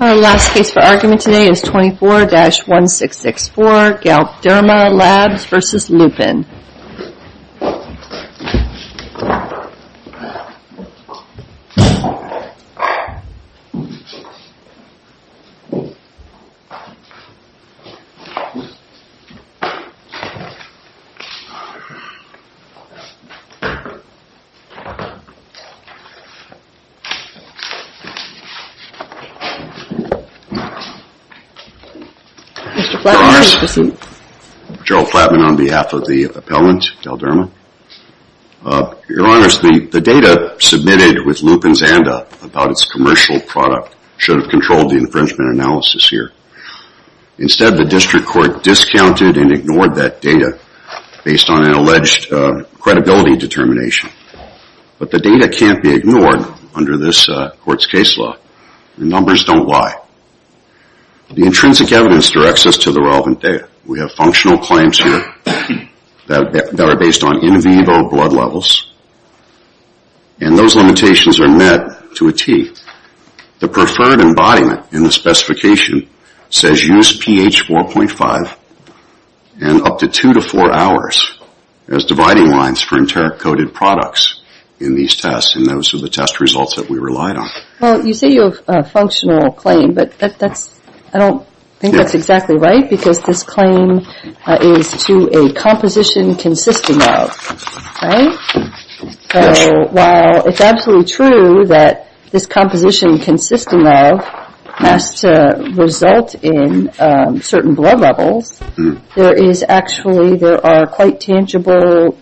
Our last case for argument today is 24-1664, Galderma Labs v. Lupin. Your Honors, the data submitted with Lupin's ANDA about its commercial product should have controlled the infringement analysis here. Instead the District Court discounted and ignored that data based on an alleged credibility determination. But the data can't be ignored under this Court's case law and numbers don't lie. The intrinsic evidence directs us to the relevant data. We have functional claims here that are based on in vivo blood levels and those limitations are met to a tee. The preferred embodiment in the specification says use pH 4.5 and up to 2 to 4 hours as dividing lines for enteric-coated products in these tests and those are the test results that we relied on. Well, you say you have a functional claim, but I don't think that's exactly right because this claim is to a composition consisting of, right? So while it's absolutely true that this composition consisting of must result in certain blood levels, there are actually quite tangible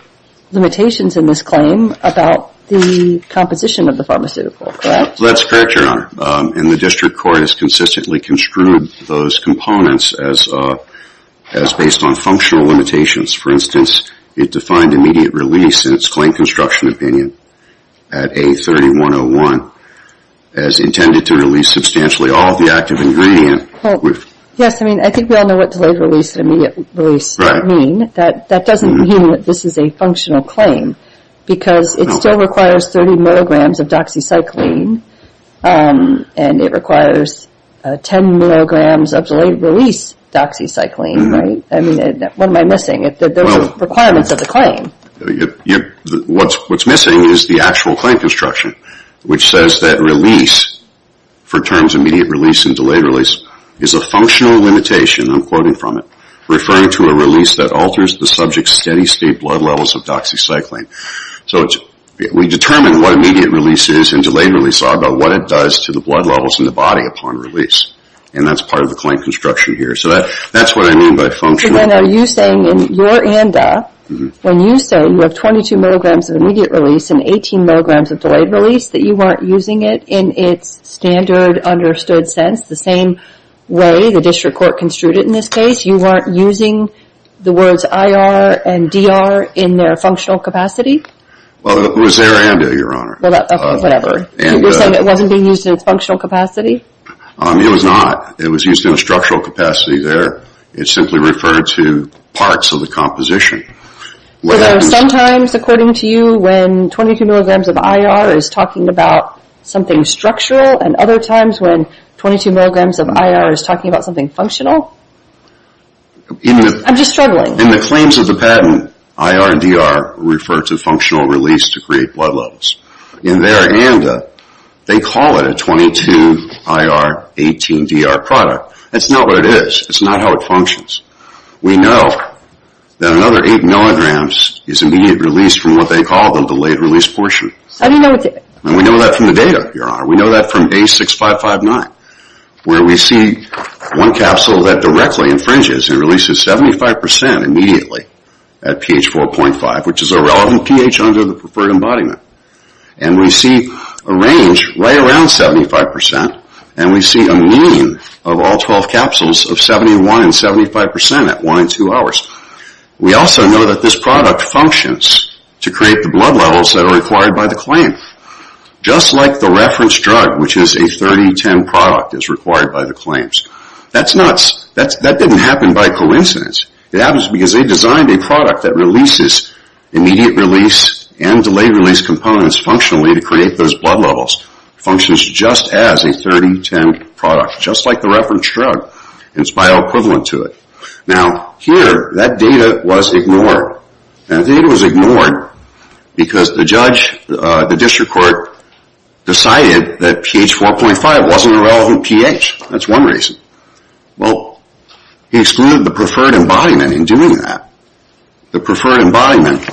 limitations in this claim about the composition of the pharmaceutical, correct? That's correct, Your Honor. And the District Court has consistently construed those components as based on functional limitations. For instance, it defined immediate release in its claim construction opinion at A3101 as intended to release substantially all of the active ingredient. Yes, I mean, I think we all know what delayed release and immediate release mean. That doesn't mean that this is a functional claim because it still requires 30 milligrams of doxycycline and it requires 10 milligrams of delayed release doxycycline, right? I mean, what am I missing? Those are the requirements of the claim. What's missing is the actual claim construction, which says that release for terms immediate release and delayed release is a functional limitation, I'm quoting from it, referring to a release that alters the subject's steady state blood levels of doxycycline. So we determine what immediate release is and delayed release is all about what it does to the blood levels in the body upon release, and that's part of the claim construction here. So that's what I mean by functional. But then are you saying in your ANDA, when you say you have 22 milligrams of immediate release and 18 milligrams of delayed release, that you weren't using it in its standard understood sense, the same way the district court construed it in this case? You weren't using the words IR and DR in their functional capacity? Well, it was their ANDA, Your Honor. Well, that's whatever. You're saying it wasn't being used in its functional capacity? It was not. It was used in a structural capacity there. It simply referred to parts of the composition. So sometimes, according to you, when 22 milligrams of IR is talking about something structural and other times when 22 milligrams of IR is talking about something functional? I'm just struggling. In the claims of the patent, IR and DR refer to functional release to create blood levels. In their ANDA, they call it a 22-IR-18-DR product. That's not what it is. That's not how it functions. We know that another 8 milligrams is immediate release from what they call the delayed release portion. How do you know what that is? We know that from the data, Your Honor. We know that from A6559 where we see one capsule that directly infringes and releases 75% immediately at pH 4.5, which is a relevant pH under the preferred embodiment. And we see a range right around 75% and we see a mean of all 12 capsules of 71 and 75% at 1 and 2 hours. We also know that this product functions to create the blood levels that are required by the claim. Just like the reference drug, which is a 3010 product, is required by the claims. That didn't happen by coincidence. It happens because they designed a product that releases immediate release and delayed release components functionally to create those blood levels. It functions just as a 3010 product. Just like the reference drug and it's bioequivalent to it. Now here, that data was ignored. That data was ignored because the judge, the district court, decided that pH 4.5 wasn't a relevant pH. That's one reason. Well, he excluded the preferred embodiment in doing that. The preferred embodiment,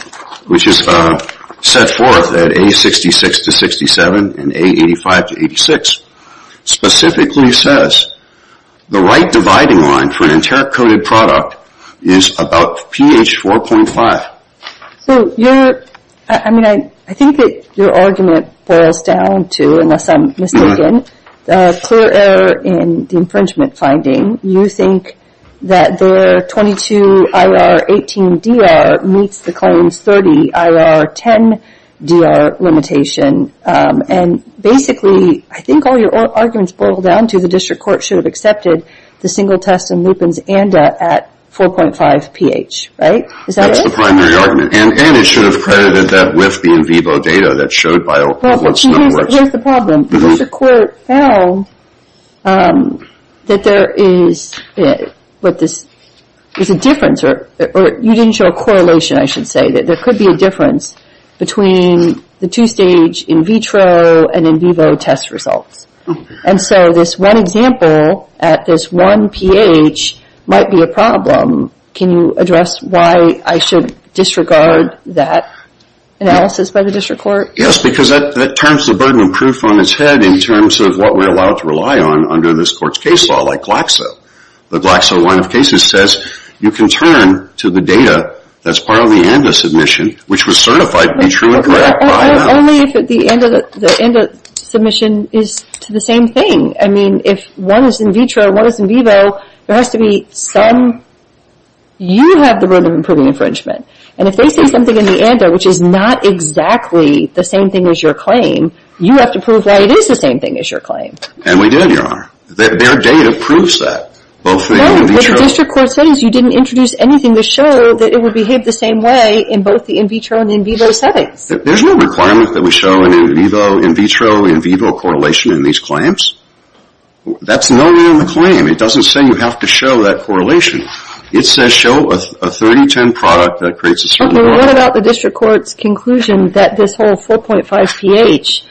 which is set forth at A66 to 67 and A85 to 86, specifically says the right dividing line for an enteric-coated product is about pH 4.5. I think that your argument boils down to, unless I'm mistaken, a clear error in the infringement finding. You think that their 22 IRR 18 DR meets the claim's 30 IRR 10 DR limitation and basically I think all your arguments boil down to the district court should have accepted the single test in Lupin's ANDA at 4.5 pH, right? That's the primary argument and it should have credited that with the in vivo data that showed by what's in the works. Here's the problem. If the court found that there is a difference or you didn't show a correlation, I should disregard that analysis by the district court? Yes, because that turns the burden of proof on its head in terms of what we're allowed to rely on under this court's case law, like Glaxo. The Glaxo line of cases says you can turn to the data that's part of the ANDA submission, which was certified to be true and correct by them. Only if at the end of the ANDA submission, you can turn to the data that's part of the same thing. I mean, if one is in vitro and one is in vivo, there has to be some... You have the burden of proving infringement. And if they say something in the ANDA which is not exactly the same thing as your claim, you have to prove why it is the same thing as your claim. And we did, Your Honor. Their data proves that. Both the in vitro... No, with the district court settings, you didn't introduce anything to show that it would behave the same way in both the in vitro and in vivo settings. There's no requirement that we show an in vivo, in vitro, in vivo correlation in these claims. That's not in the claim. It doesn't say you have to show that correlation. It says show a 30-10 product that creates a certain... What about the district court's conclusion that this whole 4.5 pH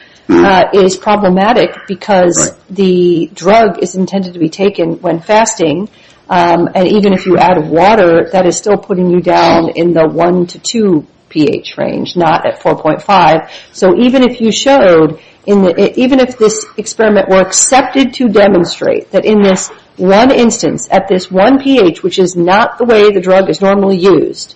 is problematic because the drug is intended to be taken when fasting, and even if you add water, that is still putting you down in the 1-2 pH range, not at 4.5. So, even if you showed... Even if this experiment were accepted to demonstrate that in this one instance, at this one pH, which is not the way the drug is normally used,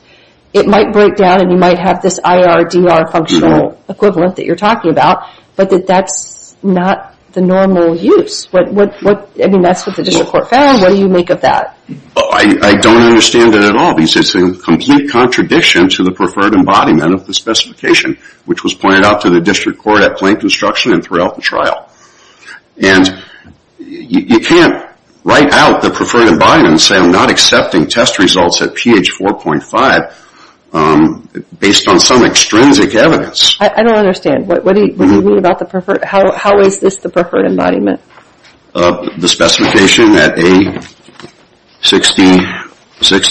it might break down and you might have this IRDR functional equivalent that you're talking about, but that that's not the normal use. I mean, that's what the district court found. What do you make of that? I don't understand it at all. It's a complete contradiction to the preferred embodiment of the specification, which was pointed out to the district court at plain construction and throughout the trial. And you can't write out the preferred embodiment and say I'm not accepting test results at pH 4.5 based on some extrinsic evidence. I don't understand. What do you mean about the preferred... How is this the preferred embodiment? The specification at A66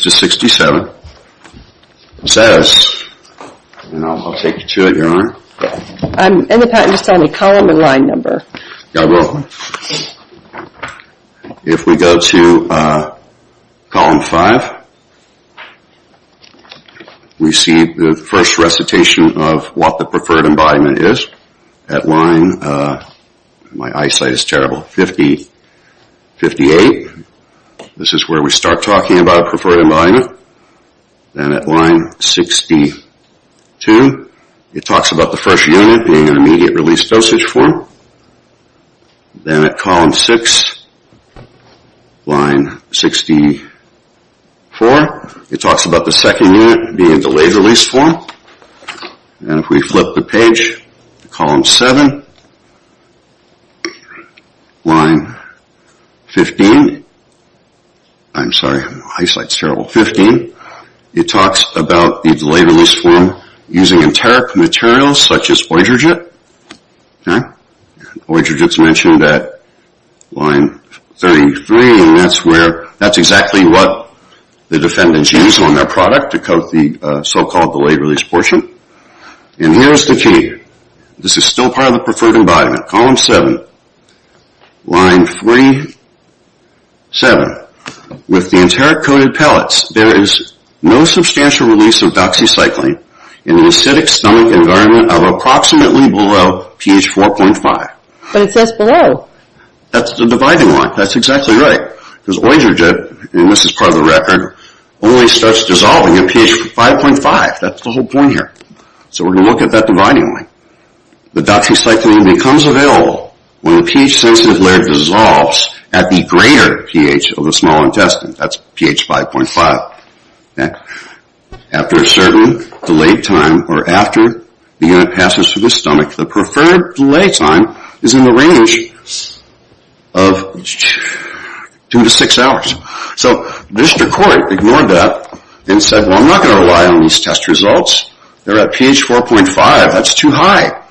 to 67 says, and I'll take you to it, Your Honor. I'm in the patent just on the column and line number. You're welcome. If we go to column 5, we see the first recitation of what the preferred embodiment is. At line, my eyesight is terrible, 50, 58. This is where we start talking about preferred embodiment. Then at line 62, it talks about the first unit being an immediate release dosage form. Then at column 6, line 64, it talks about the second unit being a delayed release form. And if we flip the page to column 7, line 15, I'm sorry, my eyesight is terrible, 15, it talks about the delayed release form using enteric materials such as Oydergit. Oydergit is mentioned at line 33, and that's exactly what the defendants use on their product to coat the so-called delayed release portion. And here's the key. This is still part of the preferred embodiment. Column 7, line 37. With the enteric coated pellets, there is no substantial release of doxycycline in an acidic stomach environment of approximately below pH 4.5. But it says below. That's the dividing line. That's exactly right. Because Oydergit, and this is part of the record, only starts dissolving at pH 5.5. That's the whole point here. So we're going to look at that dividing line. The doxycycline becomes available when the pH-sensitive layer dissolves at the greater pH of the small intestine. That's pH 5.5. After a certain delayed time, or after the unit passes through the stomach, the preferred delay time is in the range of two to six hours. So the district court ignored that and said, well, I'm not going to rely on these test results. They're at pH 4.5. That's too high.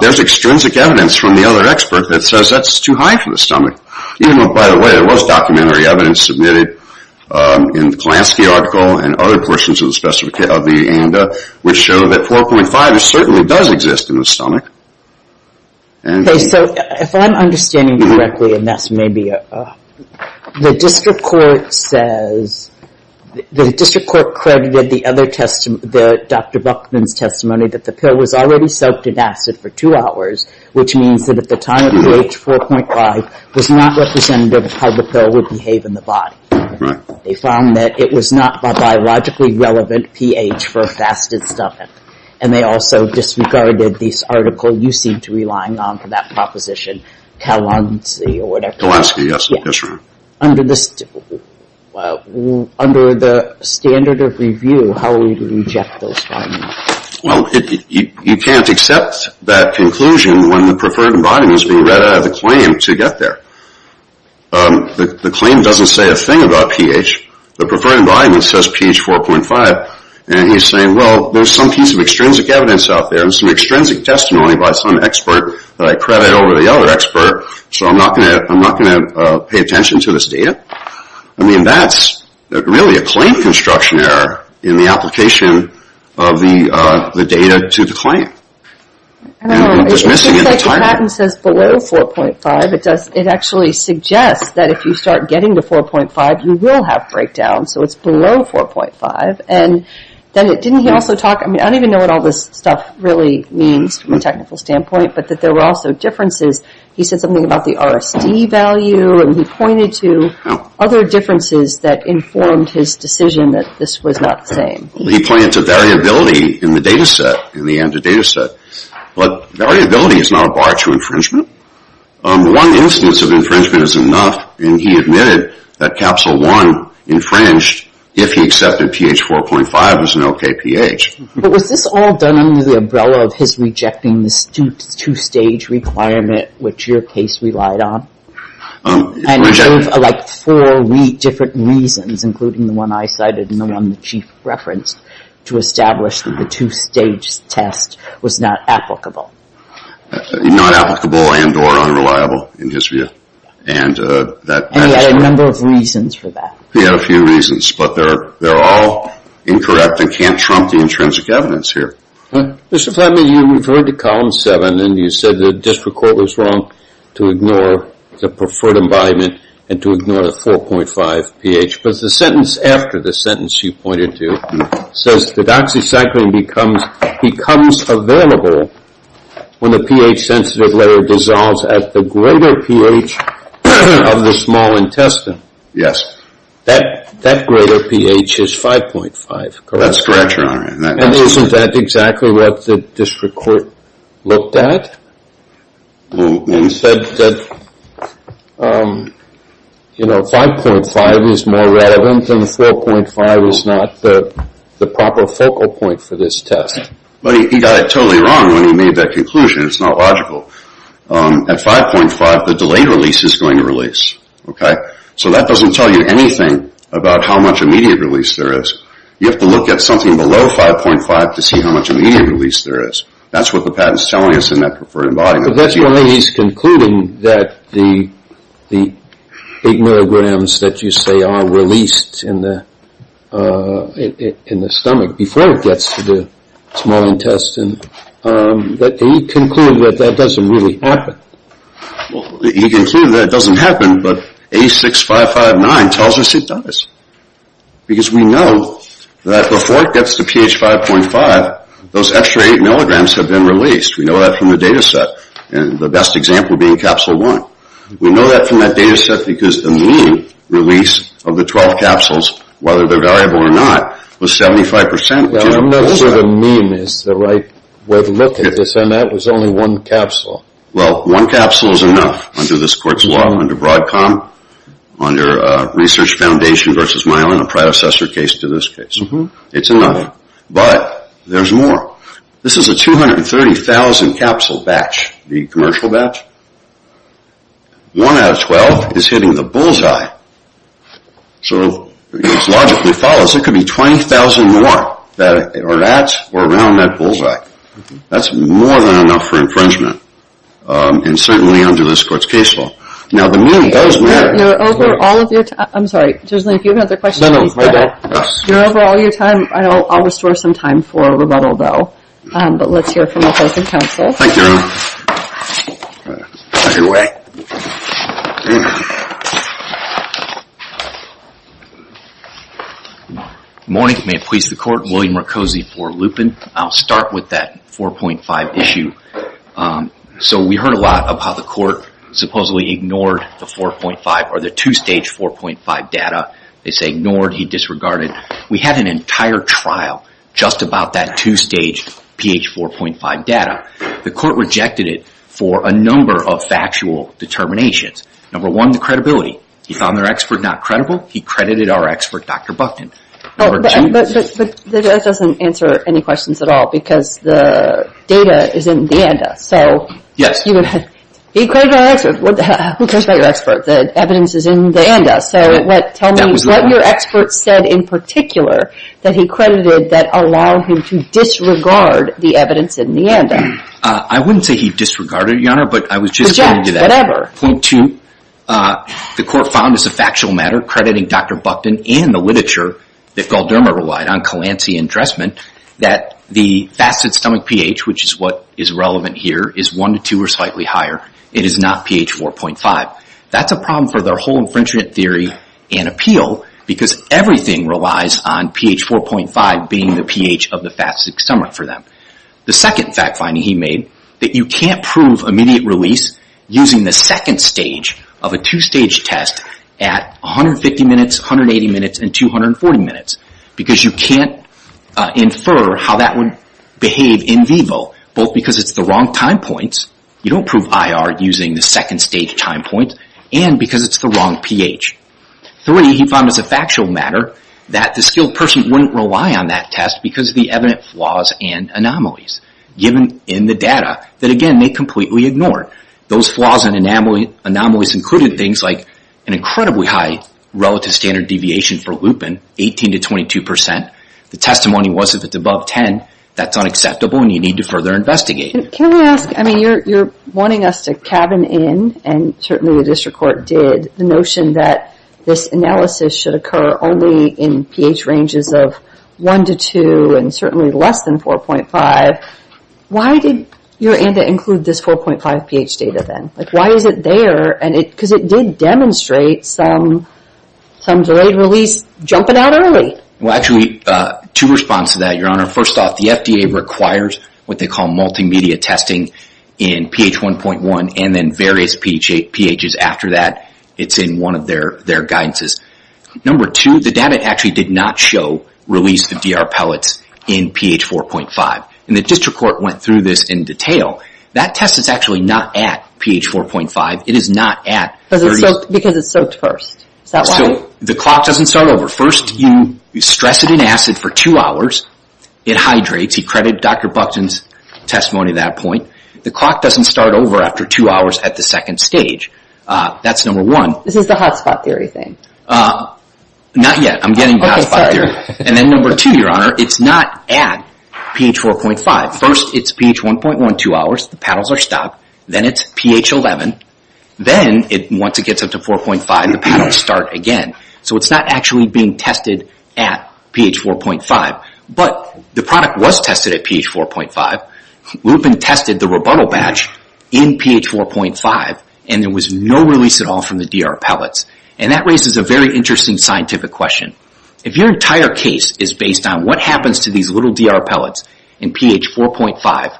There's extrinsic evidence from the other expert that says that's too high for the stomach. Even though, by the way, there was documentary evidence submitted in the Klansky article and other portions of the ANDA which show that 4.5 certainly does exist in the stomach. Okay, so if I'm understanding you correctly, and that's maybe a, the district court says, the district court credited the other test, Dr. Buckman's testimony that the pill was already soaked in acid for two hours, which means that at the time of pH 4.5 was not representative of how the pill would behave in the body. Right. They found that it was not a biologically relevant pH for a fasted stomach. And they also disregarded this article you seem to be relying on for that proposition, Kalansky or whatever. Kalansky, yes. Under the standard of review, how would we reject those findings? Well, you can't accept that conclusion when the preferred body has been read out of the claim to get there. The claim doesn't say a thing about pH. The preferred body says pH 4.5. And he's saying, well, there's some piece of extrinsic evidence out there and some extrinsic testimony by some expert that I credit over the other expert, so I'm not going to pay attention to this data. I mean, that's really a claim construction error in the application of the data to the claim. I don't know. It seems like Patton says below 4.5. It actually suggests that if you start getting to 4.5, you will have breakdown. So it's below 4.5. And then didn't he also talk, I mean, I don't even know what all this stuff really means from a technical standpoint, but that there were also differences. He said something about the RSD value, and he pointed to other differences that informed his decision that this was not the same. He pointed to variability in the data set, in the end of the data set. But variability is not a bar to infringement. One instance of infringement is enough, and he admitted that capsule one infringed if he accepted pH 4.5 as an okay pH. But was this all done under the umbrella of his rejecting the two-stage requirement, which your case relied on? And he gave like four different reasons, including the one I cited and the one the chief referenced, to establish that the two-stage test was not applicable. Not applicable and or unreliable in his view. And he had a number of reasons for that. He had a few reasons. But they're all incorrect and can't trump the intrinsic evidence here. Mr. Flatman, you referred to column seven, and you said the district court was wrong to ignore the preferred embodiment and to ignore the 4.5 pH. But the sentence after the sentence you pointed to says that oxycycline becomes available when the pH-sensitive layer dissolves at the greater pH of the small intestine. Yes. That greater pH is 5.5, correct? That's correct, Your Honor. And isn't that exactly what the district court looked at? Well, we said that 5.5 is more relevant and 4.5 is not the proper focal point for this test. But he got it totally wrong when he made that conclusion. It's not logical. At 5.5, the delayed release is going to release. So that doesn't tell you anything about how much immediate release there is. You have to look at something below 5.5 to see how much immediate release there is. That's what the patent is telling us in that preferred embodiment. But that's why he's concluding that the 8 milligrams that you say are released in the stomach before it gets to the small intestine, but he concluded that that doesn't really happen. He concluded that it doesn't happen, but A6559 tells us it does. Because we know that before it gets to pH 5.5, those extra 8 milligrams have been released. We know that from the data set, and the best example being capsule 1. We know that from that data set because the mean release of the 12 capsules, whether they're variable or not, was 75%. Now, I'm not sure the mean is the right way to look at this, and that was only one capsule. Well, one capsule is enough under this court's law. Under Broadcom, under Research Foundation v. Myelin, a predecessor case to this case. It's enough, but there's more. This is a 230,000 capsule batch, the commercial batch. One out of 12 is hitting the bullseye. So it logically follows it could be 20,000 more that are at or around that bullseye. That's more than enough for infringement, and certainly under this court's case law. Now, the mean does matter. You're over all of your time. I'm sorry, if you have another question, please go ahead. You're over all of your time. I'll restore some time for rebuttal, though. But let's hear from the Housing Council. Thank you. Either way. Good morning. May it please the Court. William Mercosi for Lupin. I'll start with that 4.5 issue. So we heard a lot about how the court supposedly ignored the 2-stage 4.5 data. They say ignored, he disregarded. We had an entire trial just about that 2-stage pH 4.5 data. The court rejected it for a number of factual determinations. Number one, the credibility. He found their expert not credible. He credited our expert, Dr. Buckton. But that doesn't answer any questions at all because the data is in the ANDA. Yes. He credited our expert. Who cares about your expert? The evidence is in the ANDA. So tell me what your expert said in particular that he credited that allowed him to disregard the evidence in the ANDA. I wouldn't say he disregarded it, Your Honor, but I was just going to do that. Reject whatever. Point two, the court found as a factual matter, crediting Dr. Buckton and the literature that Galderma relied on, Colancy and Dressman, that the fasted stomach pH, which is what is relevant here, is 1 to 2 or slightly higher. It is not pH 4.5. That's a problem for their whole infringement theory and appeal because everything relies on pH 4.5 being the pH of the fasted stomach for them. The second fact finding he made that you can't prove immediate release using the second stage of a two-stage test at 150 minutes, 180 minutes, and 240 minutes because you can't infer how that would behave in vivo, both because it's the wrong time points. You don't prove IR using the second stage time point and because it's the wrong pH. Three, he found as a factual matter that the skilled person wouldn't rely on that test because of the evident flaws and anomalies given in the data that, again, they completely ignored. Those flaws and anomalies included things like an incredibly high relative standard deviation for lupin, 18 to 22 percent. The testimony was if it's above 10, that's unacceptable and you need to further investigate. Can I ask, I mean, you're wanting us to cabin in, and certainly the district court did, the notion that this analysis should occur only in pH ranges of 1 to 2 and certainly less than 4.5. Why did your ANDA include this 4.5 pH data then? Why is it there? Because it did demonstrate some delayed release jumping out early. Well, actually, two responses to that, Your Honor. First off, the FDA requires what they call multimedia testing in pH 1.1 and then various pHs after that. It's in one of their guidances. Number two, the data actually did not show release of DR pellets in pH 4.5. And the district court went through this in detail. That test is actually not at pH 4.5. It is not at... Because it's soaked first. So the clock doesn't start over. First, you stress it in acid for two hours. It hydrates. You credit Dr. Buxton's testimony at that point. The clock doesn't start over after two hours at the second stage. That's number one. This is the hot spot theory thing. Not yet. I'm getting to the hot spot theory. And then number two, Your Honor, it's not at pH 4.5. First, it's pH 1.1 two hours. The paddles are stopped. Then it's pH 11. Then, once it gets up to 4.5, the paddles start again. So it's not actually being tested at pH 4.5. But the product was tested at pH 4.5. Lupin tested the rebuttal batch in pH 4.5, and there was no release at all from the DR pellets. And that raises a very interesting scientific question. If your entire case is based on what happens to these little DR pellets in pH 4.5,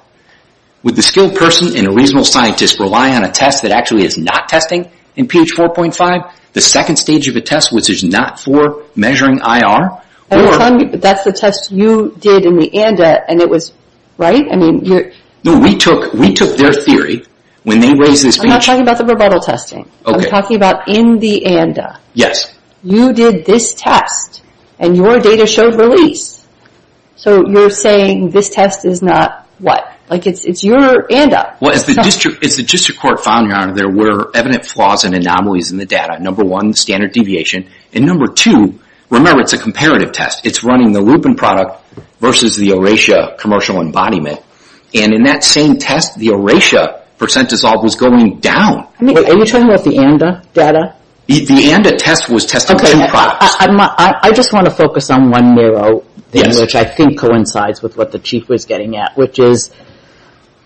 would the skilled person and a reasonable scientist rely on a test that actually is not testing in pH 4.5? The second stage of a test which is not for measuring IR? That's the test you did in the ANDA, and it was right? No, we took their theory when they raised this. I'm not talking about the rebuttal testing. I'm talking about in the ANDA. Yes. You did this test, and your data showed release. So you're saying this test is not what? Like it's your ANDA. Well, as the district court found, Your Honor, there were evident flaws and anomalies in the data. Number one, standard deviation. And number two, remember, it's a comparative test. It's running the Lupin product versus the Oratia commercial embodiment. And in that same test, the Oratia percent dissolve was going down. Are you talking about the ANDA data? The ANDA test was testing two products. I just want to focus on one narrow thing, which I think coincides with what the Chief was getting at, which is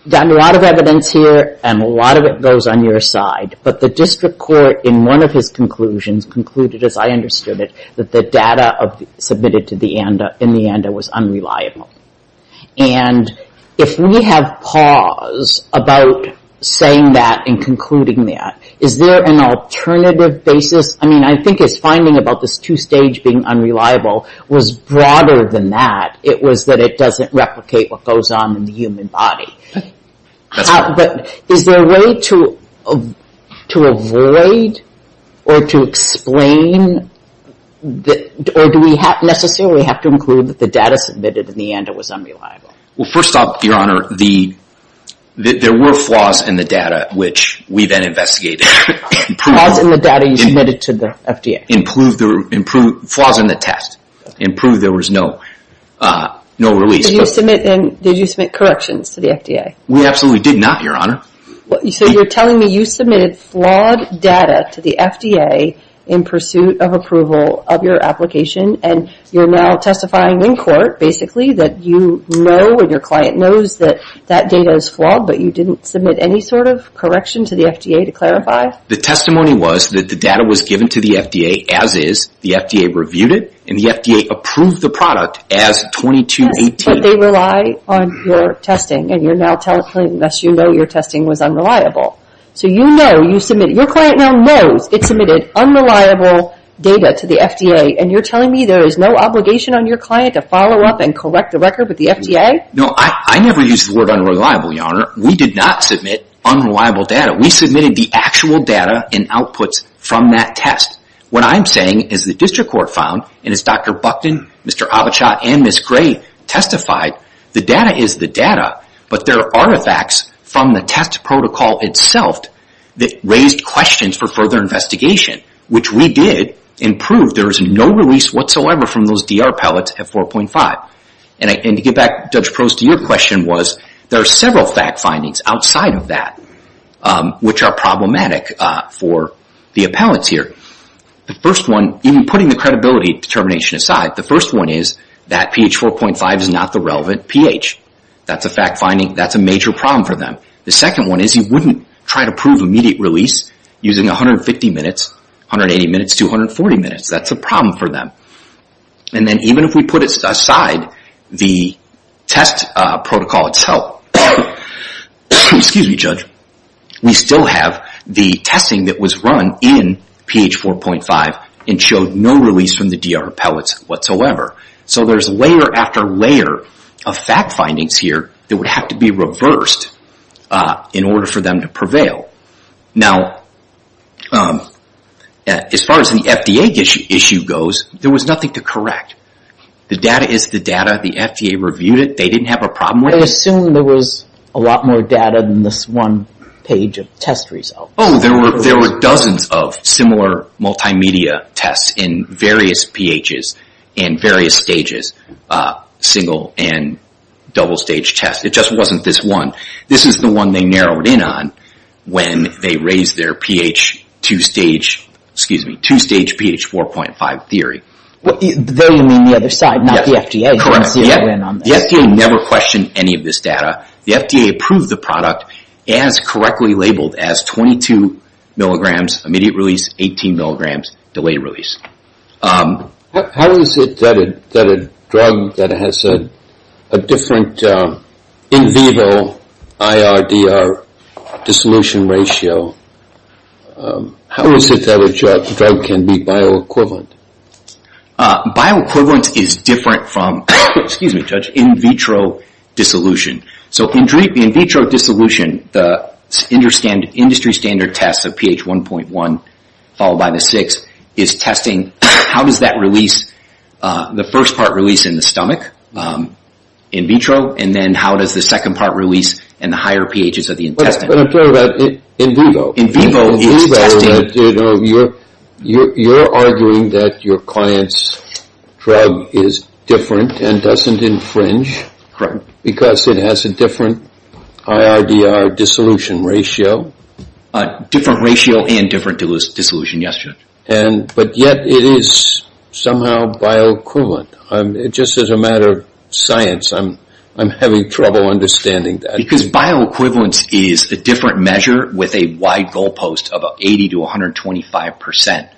there's a lot of evidence here, and a lot of it goes on your side. But the district court, in one of his conclusions, concluded, as I understood it, that the data submitted in the ANDA was unreliable. And if we have pause about saying that and concluding that, is there an alternative basis? I mean, I think his finding about this two-stage being unreliable was broader than that. It was that it doesn't replicate what goes on in the human body. But is there a way to avoid or to explain, or do we necessarily have to conclude that the data submitted in the ANDA was unreliable? Well, first off, Your Honor, there were flaws in the data, which we then investigated. Flaws in the data you submitted to the FDA? Flaws in the test. It proved there was no release. Did you submit corrections to the FDA? We absolutely did not, Your Honor. So you're telling me you submitted flawed data to the FDA in pursuit of approval of your application, and you're now testifying in court, basically, that you know and your client knows that that data is flawed, but you didn't submit any sort of correction to the FDA to clarify? The testimony was that the data was given to the FDA as is, the FDA reviewed it, and the FDA approved the product as 2218. Yes, but they rely on your testing, and you're now telling them that you know your testing was unreliable. So you know, your client now knows it submitted unreliable data to the FDA, and you're telling me there is no obligation on your client to follow up and correct the record with the FDA? No, I never used the word unreliable, Your Honor. We did not submit unreliable data. We submitted the actual data and outputs from that test. What I'm saying is the district court found, and as Dr. Buckton, Mr. Avachat, and Ms. Gray testified, the data is the data, but there are artifacts from the test protocol itself that raised questions for further investigation, which we did and proved there was no release whatsoever from those DR pellets at 4.5. And to get back, Judge Prose, to your question, there are several fact findings outside of that which are problematic for the appellants here. The first one, even putting the credibility determination aside, the first one is that pH 4.5 is not the relevant pH. That's a fact finding. That's a major problem for them. The second one is you wouldn't try to prove immediate release using 150 minutes, 180 minutes, 240 minutes. That's a problem for them. And then even if we put aside the test protocol itself, we still have the testing that was run in pH 4.5 and showed no release from the DR pellets whatsoever. So there's layer after layer of fact findings here that would have to be reversed in order for them to prevail. Now, as far as the FDA issue goes, there was nothing to correct. The data is the data. The FDA reviewed it. They didn't have a problem with it. I assume there was a lot more data than this one page of test results. Oh, there were dozens of similar multimedia tests in various pHs and various stages, single and double stage tests. It just wasn't this one. This is the one they narrowed in on when they raised their two-stage pH 4.5 theory. There you mean the other side, not the FDA? Correct. The FDA never questioned any of this data. The FDA approved the product as correctly labeled as 22 mg immediate release, 18 mg delayed release. How is it that a drug that has a different in vivo IRDR dissolution ratio, how is it that a drug can be bioequivalent? Bioequivalence is different from in vitro dissolution. So in vitro dissolution, the industry standard test of pH 1.1 followed by the 6 is testing how does that release, the first part release in the stomach in vitro and then how does the second part release in the higher pHs of the intestine. But I'm talking about in vivo. In vivo, you're arguing that your client's drug is different and doesn't infringe because it has a different IRDR dissolution ratio. Different ratio and different dissolution, yes. But yet it is somehow bioequivalent. Just as a matter of science, I'm having trouble understanding that. Because bioequivalence is a different measure with a wide goalpost of 80 to 125%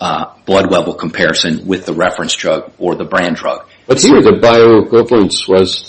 blood level comparison with the reference drug or the brand drug. But here the bioequivalence was,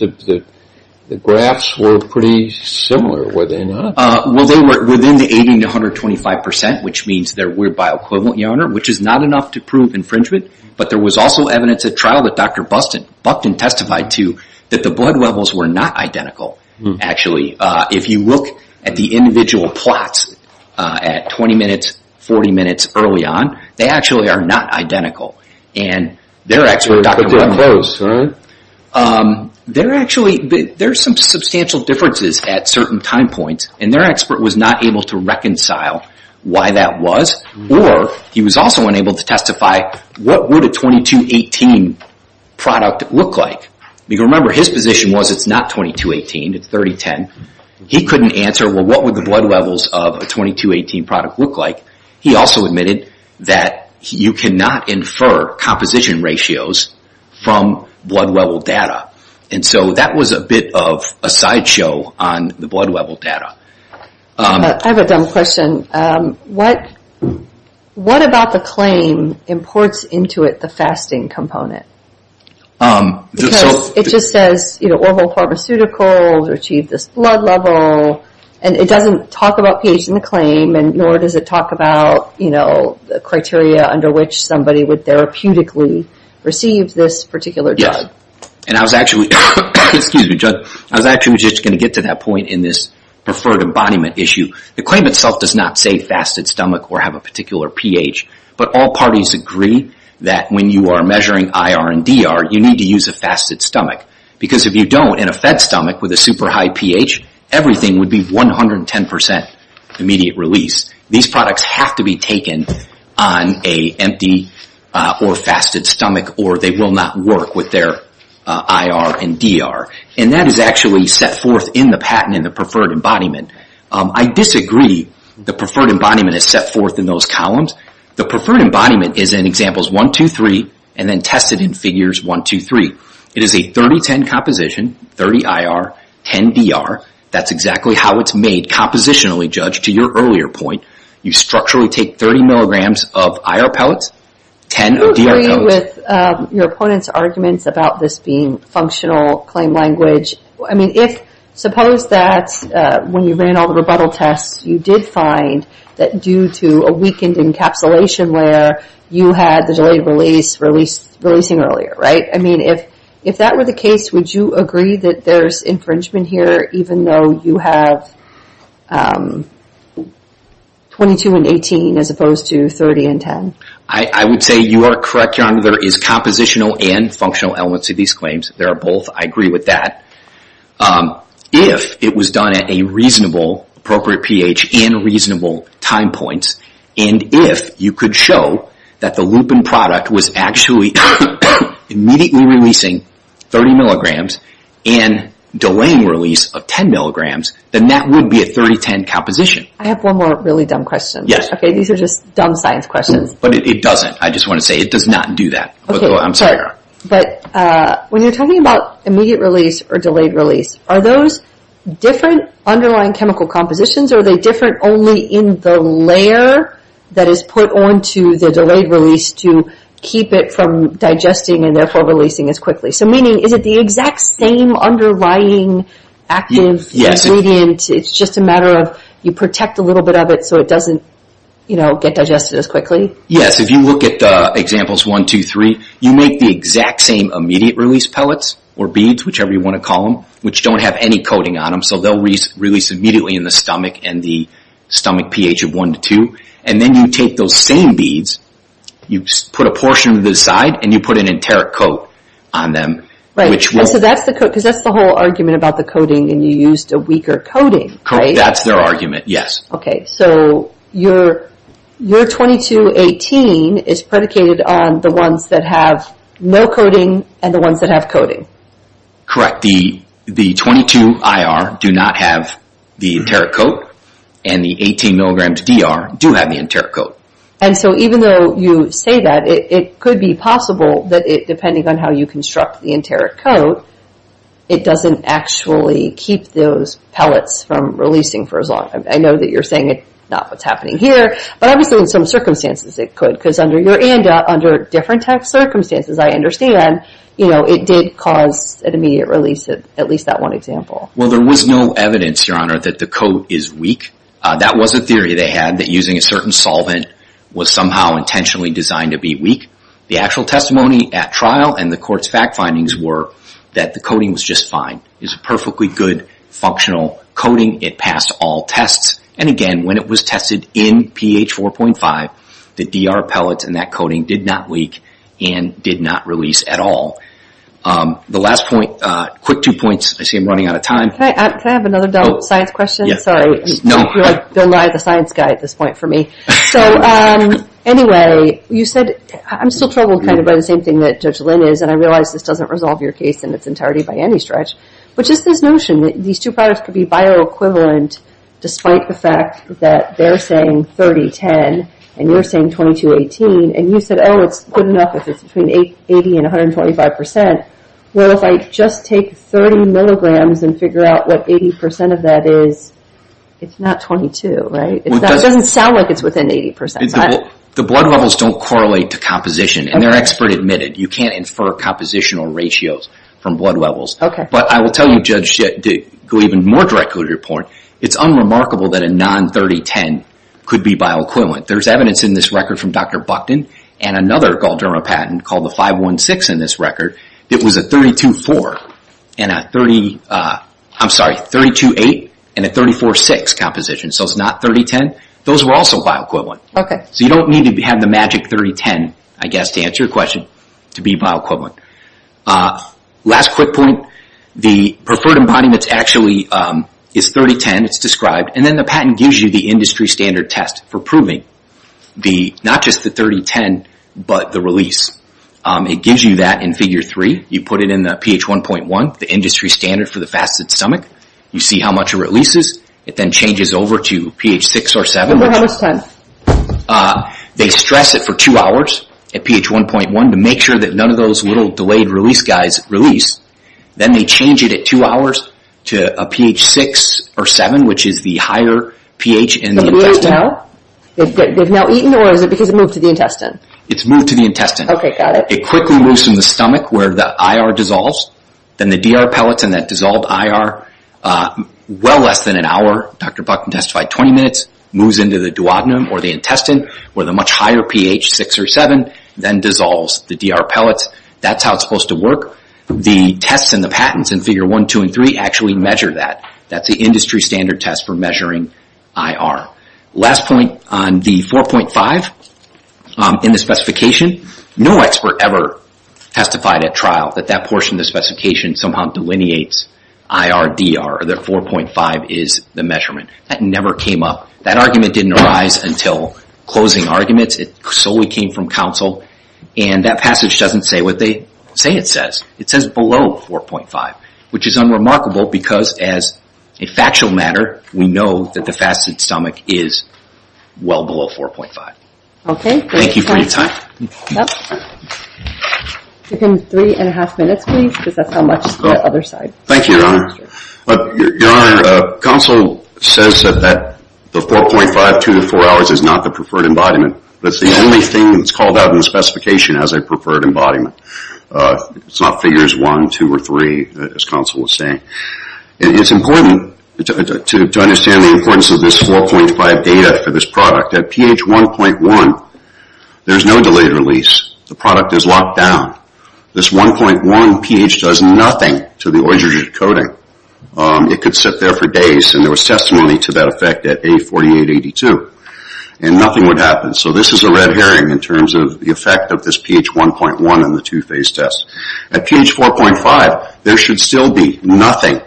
the graphs were pretty similar, were they not? Well, they were within the 80 to 125%, which means they were bioequivalent, Your Honor, which is not enough to prove infringement. But there was also evidence at trial that Dr. Buckton testified to that the blood levels were not identical, actually. If you look at the individual plots at 20 minutes, 40 minutes early on, they actually are not identical. And their expert, Dr. Buckton, there are some substantial differences at certain time points. And their expert was not able to reconcile why that was. Or he was also unable to testify what would a 2218 product look like? Because remember, his position was it's not 2218, it's 3010. He couldn't answer, well, what would the blood levels of a 2218 product look like? He also admitted that you cannot infer composition ratios from blood level data. And so that was a bit of a sideshow on the blood level data. I have a dumb question. What about the claim imports into it the fasting component? Because it just says, you know, Orville Pharmaceuticals achieved this blood level. And it doesn't talk about pH in the claim, nor does it talk about, you know, the criteria under which somebody would therapeutically receive this particular drug. And I was actually... Excuse me, Judge. I was actually just going to get to that point in this preferred embodiment issue. The claim itself does not say fasted stomach or have a particular pH. But all parties agree that when you are measuring IR and DR, you need to use a fasted stomach. Because if you don't, in a fed stomach with a super high pH, everything would be 110% immediate release. These products have to be taken on an empty or fasted stomach, or they will not work with their IR and DR. And that is actually set forth in the patent in the preferred embodiment. I disagree the preferred embodiment is set forth in those columns. The preferred embodiment is in Examples 1, 2, 3, and then tested in Figures 1, 2, 3. It is a 30-10 composition, 30 IR, 10 DR. That's exactly how it's made compositionally, Judge, to your earlier point. You structurally take 30 milligrams of IR pellets, 10 DR dose... Do you agree with your opponent's arguments about this being functional claim language? I mean, suppose that when you ran all the rebuttal tests, you did find that due to a weakened encapsulation layer, you had the delayed release releasing earlier, right? I mean, if that were the case, would you agree that there's infringement here even though you have 22 and 18 as opposed to 30 and 10? I would say you are correct, Your Honor. The other is compositional and functional elements of these claims. They are both. I agree with that. If it was done at a reasonable, appropriate pH and reasonable time points, and if you could show that the lupin product was actually immediately releasing 30 milligrams and delaying release of 10 milligrams, then that would be a 30-10 composition. I have one more really dumb question. These are just dumb science questions. But it doesn't. I just want to say it does not do that. I'm sorry, Your Honor. But when you're talking about immediate release or delayed release, are those different underlying chemical compositions or are they different only in the layer that is put onto the delayed release to keep it from digesting and therefore releasing as quickly? So meaning, is it the exact same underlying active ingredient? It's just a matter of you protect a little bit of it so it doesn't get digested as quickly? Yes. If you look at examples 1, 2, 3, you make the exact same immediate release pellets or beads, whichever you want to call them, which don't have any coating on them. So they'll release immediately in the stomach and the stomach pH of 1 to 2. And then you take those same beads, you put a portion to the side, and you put an enteric coat on them. Right. So that's the whole argument about the coating and you used a weaker coating, right? Correct. That's their argument, yes. Okay, so your 2218 is predicated on the ones that have no coating and the ones that have coating. Correct. The 22IR do not have the enteric coat and the 18 mg DR do have the enteric coat. And so even though you say that, it could be possible that depending on how you construct the enteric coat, it doesn't actually keep those pellets from releasing for as long. I know that you're saying it's not what's happening here, but obviously in some circumstances it could because under your ANDA, under different circumstances, I understand it did cause an immediate release, at least that one example. Well, there was no evidence, Your Honor, that the coat is weak. That was a theory they had that using a certain solvent was somehow intentionally designed to be weak. The actual testimony at trial and the court's fact findings were that the coating was just fine. It was a perfectly good functional coating. It passed all tests. And again, when it was tested in pH 4.5, the DR pellets and that coating did not leak and did not release at all. The last point, quick two points. I see I'm running out of time. Can I have another dumb science question? Sorry, you're like Bill Nye the science guy at this point for me. So anyway, you said, I'm still troubled by the same thing that Judge Lynn is, and I realize this doesn't resolve your case in its entirety by any stretch, but just this notion that these two products could be bioequivalent despite the fact that they're saying 30-10 and you're saying 22-18, and you said, oh, it's good enough if it's between 80 and 125 percent. Well, if I just take 30 milligrams and figure out what 80 percent of that is, it's not 22, right? It doesn't sound like it's within 80 percent. The blood levels don't correlate to composition, and they're expert admitted. You can't infer compositional ratios from blood levels. But I will tell you, Judge, to go even more directly to your point, it's unremarkable that a non-30-10 could be bioequivalent. There's evidence in this record from Dr. Buckton and another gauldron patent called the 5-1-6 in this record that was a 32-8 and a 34-6 composition. So it's not 30-10. Those were also bioequivalent. So you don't need to have the magic 30-10, I guess, to answer your question, to be bioequivalent. Last quick point. The preferred embodiment actually is 30-10. It's described. And then the patent gives you the industry standard test for proving not just the 30-10, but the release. It gives you that in Figure 3. You put it in the pH 1.1, the industry standard for the fasted stomach. You see how much it releases. It then changes over to pH 6 or 7. They stress it for two hours at pH 1.1 to make sure that none of those little delayed release guys release. Then they change it at two hours to a pH 6 or 7, which is the higher pH in the intestine. So they've now eaten or is it because it moved to the intestine? It's moved to the intestine. Okay, got it. It quickly moves from the stomach where the IR dissolves. Then the DR pellets and that dissolved IR, well less than an hour, Dr. Buckton testified, 20 minutes, moves into the duodenum or the intestine where the much higher pH, 6 or 7, then dissolves the DR pellets. That's how it's supposed to work. The tests and the patents in Figure 1, 2, and 3 actually measure that. That's the industry standard test for measuring IR. Last point on the 4.5 in the specification. No expert ever testified at trial that that portion of the specification somehow delineates IR, DR. The 4.5 is the measurement. That never came up. That argument didn't arise until closing arguments. It solely came from counsel, and that passage doesn't say what they say it says. It says below 4.5, which is unremarkable because as a factual matter, we know that the fasted stomach is well below 4.5. Okay, great. Thank you for your time. You have three and a half minutes, please, because that's how much is on the other side. Thank you, Your Honor. Your Honor, counsel says that the 4.5, 2 to 4 hours is not the preferred embodiment. That's the only thing that's called out in the specification as a preferred embodiment. It's not Figures 1, 2, or 3, as counsel was saying. It's important to understand the importance of this 4.5 data for this product. At pH 1.1, there's no delayed release. The product is locked down. This 1.1 pH does nothing to the oestrogen coating. It could sit there for days, and there was testimony to that effect at A4882, and nothing would happen. So this is a red herring in terms of the effect of this pH 1.1 in the two-phase test. At pH 4.5, there should still be nothing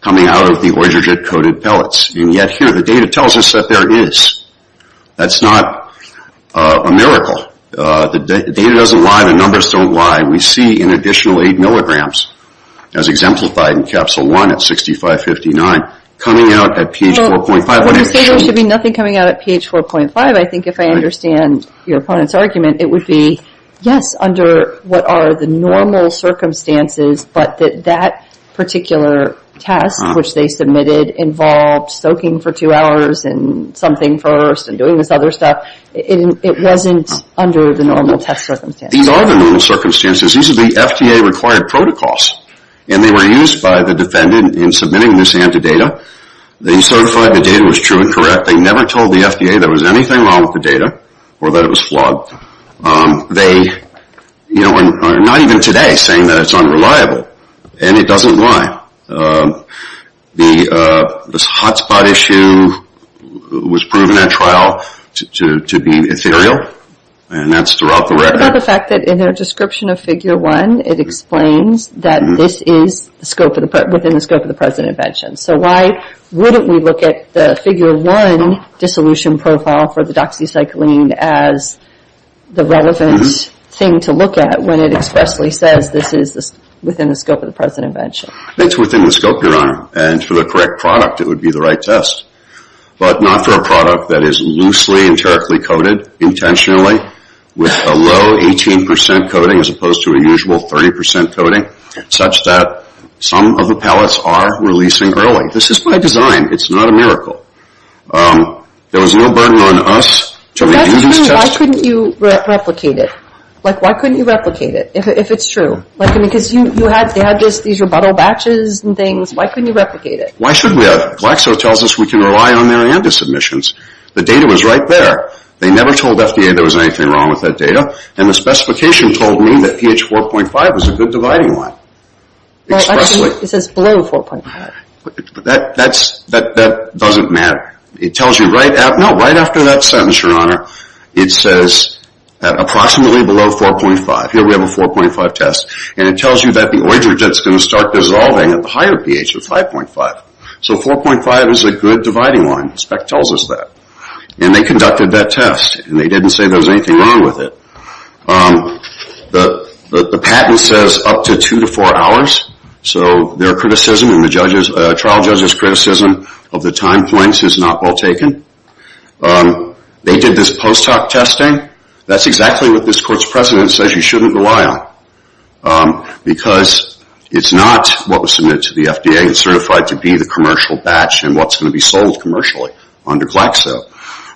coming out of the oestrogen-coated pellets, and yet here, the data tells us that there is. That's not a miracle. The data doesn't lie. The numbers don't lie. We see an additional 8 milligrams, as exemplified in Capsule 1 at 6559, coming out at pH 4.5. When I say there should be nothing coming out at pH 4.5, I think if I understand your opponent's argument, it would be, yes, under what are the normal circumstances, but that that particular test, which they submitted, involved soaking for 2 hours and something first and doing this other stuff. It wasn't under the normal test circumstances. These are the normal circumstances. These are the FDA-required protocols, and they were used by the defendant in submitting this antidata. They certified the data was true and correct. They never told the FDA there was anything wrong with the data or that it was flawed. They, you know, are not even today saying that it's unreliable, and it doesn't lie. This hotspot issue was proven at trial to be ethereal, and that's throughout the record. What about the fact that in their description of Figure 1, it explains that this is within the scope of the present invention, so why wouldn't we look at the Figure 1 dissolution profile for the doxycycline as the relevant thing to look at when it expressly says this is within the scope of the present invention? It's within the scope, Your Honor, and for the correct product, it would be the right test, but not for a product that is loosely, enterically coated intentionally with a low 18% coating as opposed to a usual 30% coating, such that some of the pellets are released and growing. This is by design. It's not a miracle. There was no burden on us to review this test. If that's true, why couldn't you replicate it? Like, why couldn't you replicate it if it's true? Like, I mean, because you had these rebuttal batches and things. Why couldn't you replicate it? Why should we have it? Glaxo tells us we can rely on their ANDA submissions. The data was right there. They never told FDA there was anything wrong with that data, and the specification told me that pH 4.5 was a good dividing line. Expressly. Well, actually, it says below 4.5. That doesn't matter. It tells you right after that sentence, Your Honor, it says approximately below 4.5. Here we have a 4.5 test, and it tells you that the orogen is going to start dissolving at the higher pH of 5.5. So 4.5 is a good dividing line. The spec tells us that. And they conducted that test, and they didn't say there was anything wrong with it. The patent says up to two to four hours, so their criticism and the trial judge's criticism of the time points is not well taken. They did this post hoc testing. That's exactly what this court's precedent says you shouldn't rely on because it's not what was submitted to the FDA. It's certified to be the commercial batch and what's going to be sold commercially under Glaxo.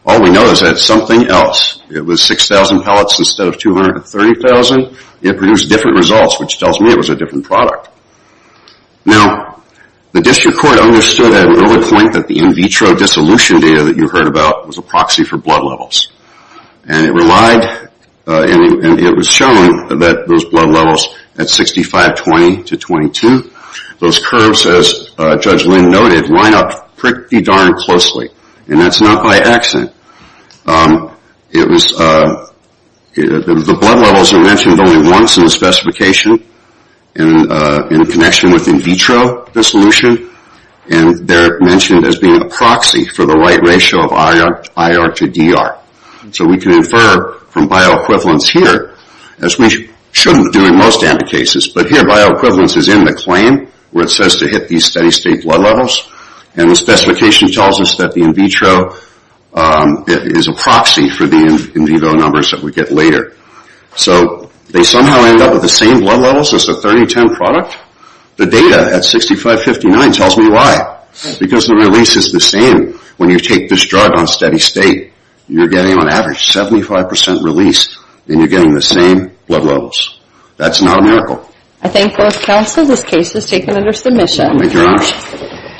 All we know is that it's something else. It was 6,000 pellets instead of 230,000. It produced different results, which tells me it was a different product. Now, the district court understood at an early point that the in vitro dissolution data that you heard about was a proxy for blood levels. And it relied, and it was shown that those blood levels at 6520 to 22, those curves, as Judge Lynn noted, line up pretty darn closely. And that's not by accident. The blood levels are mentioned only once in the specification in connection with in vitro dissolution, and they're mentioned as being a proxy for the right ratio of IR to DR. So we can infer from bioequivalence here, as we shouldn't do in most anti-cases, but here bioequivalence is in the claim, where it says to hit these steady state blood levels. And the specification tells us that the in vitro is a proxy for the in vivo numbers that we get later. So they somehow end up with the same blood levels as the 3010 product. The data at 6559 tells me why. Because the release is the same. When you take this drug on steady state, you're getting on average 75% release, and you're getting the same blood levels. That's not a miracle. I thank both counsel. This case is taken under submission. Thank you very much.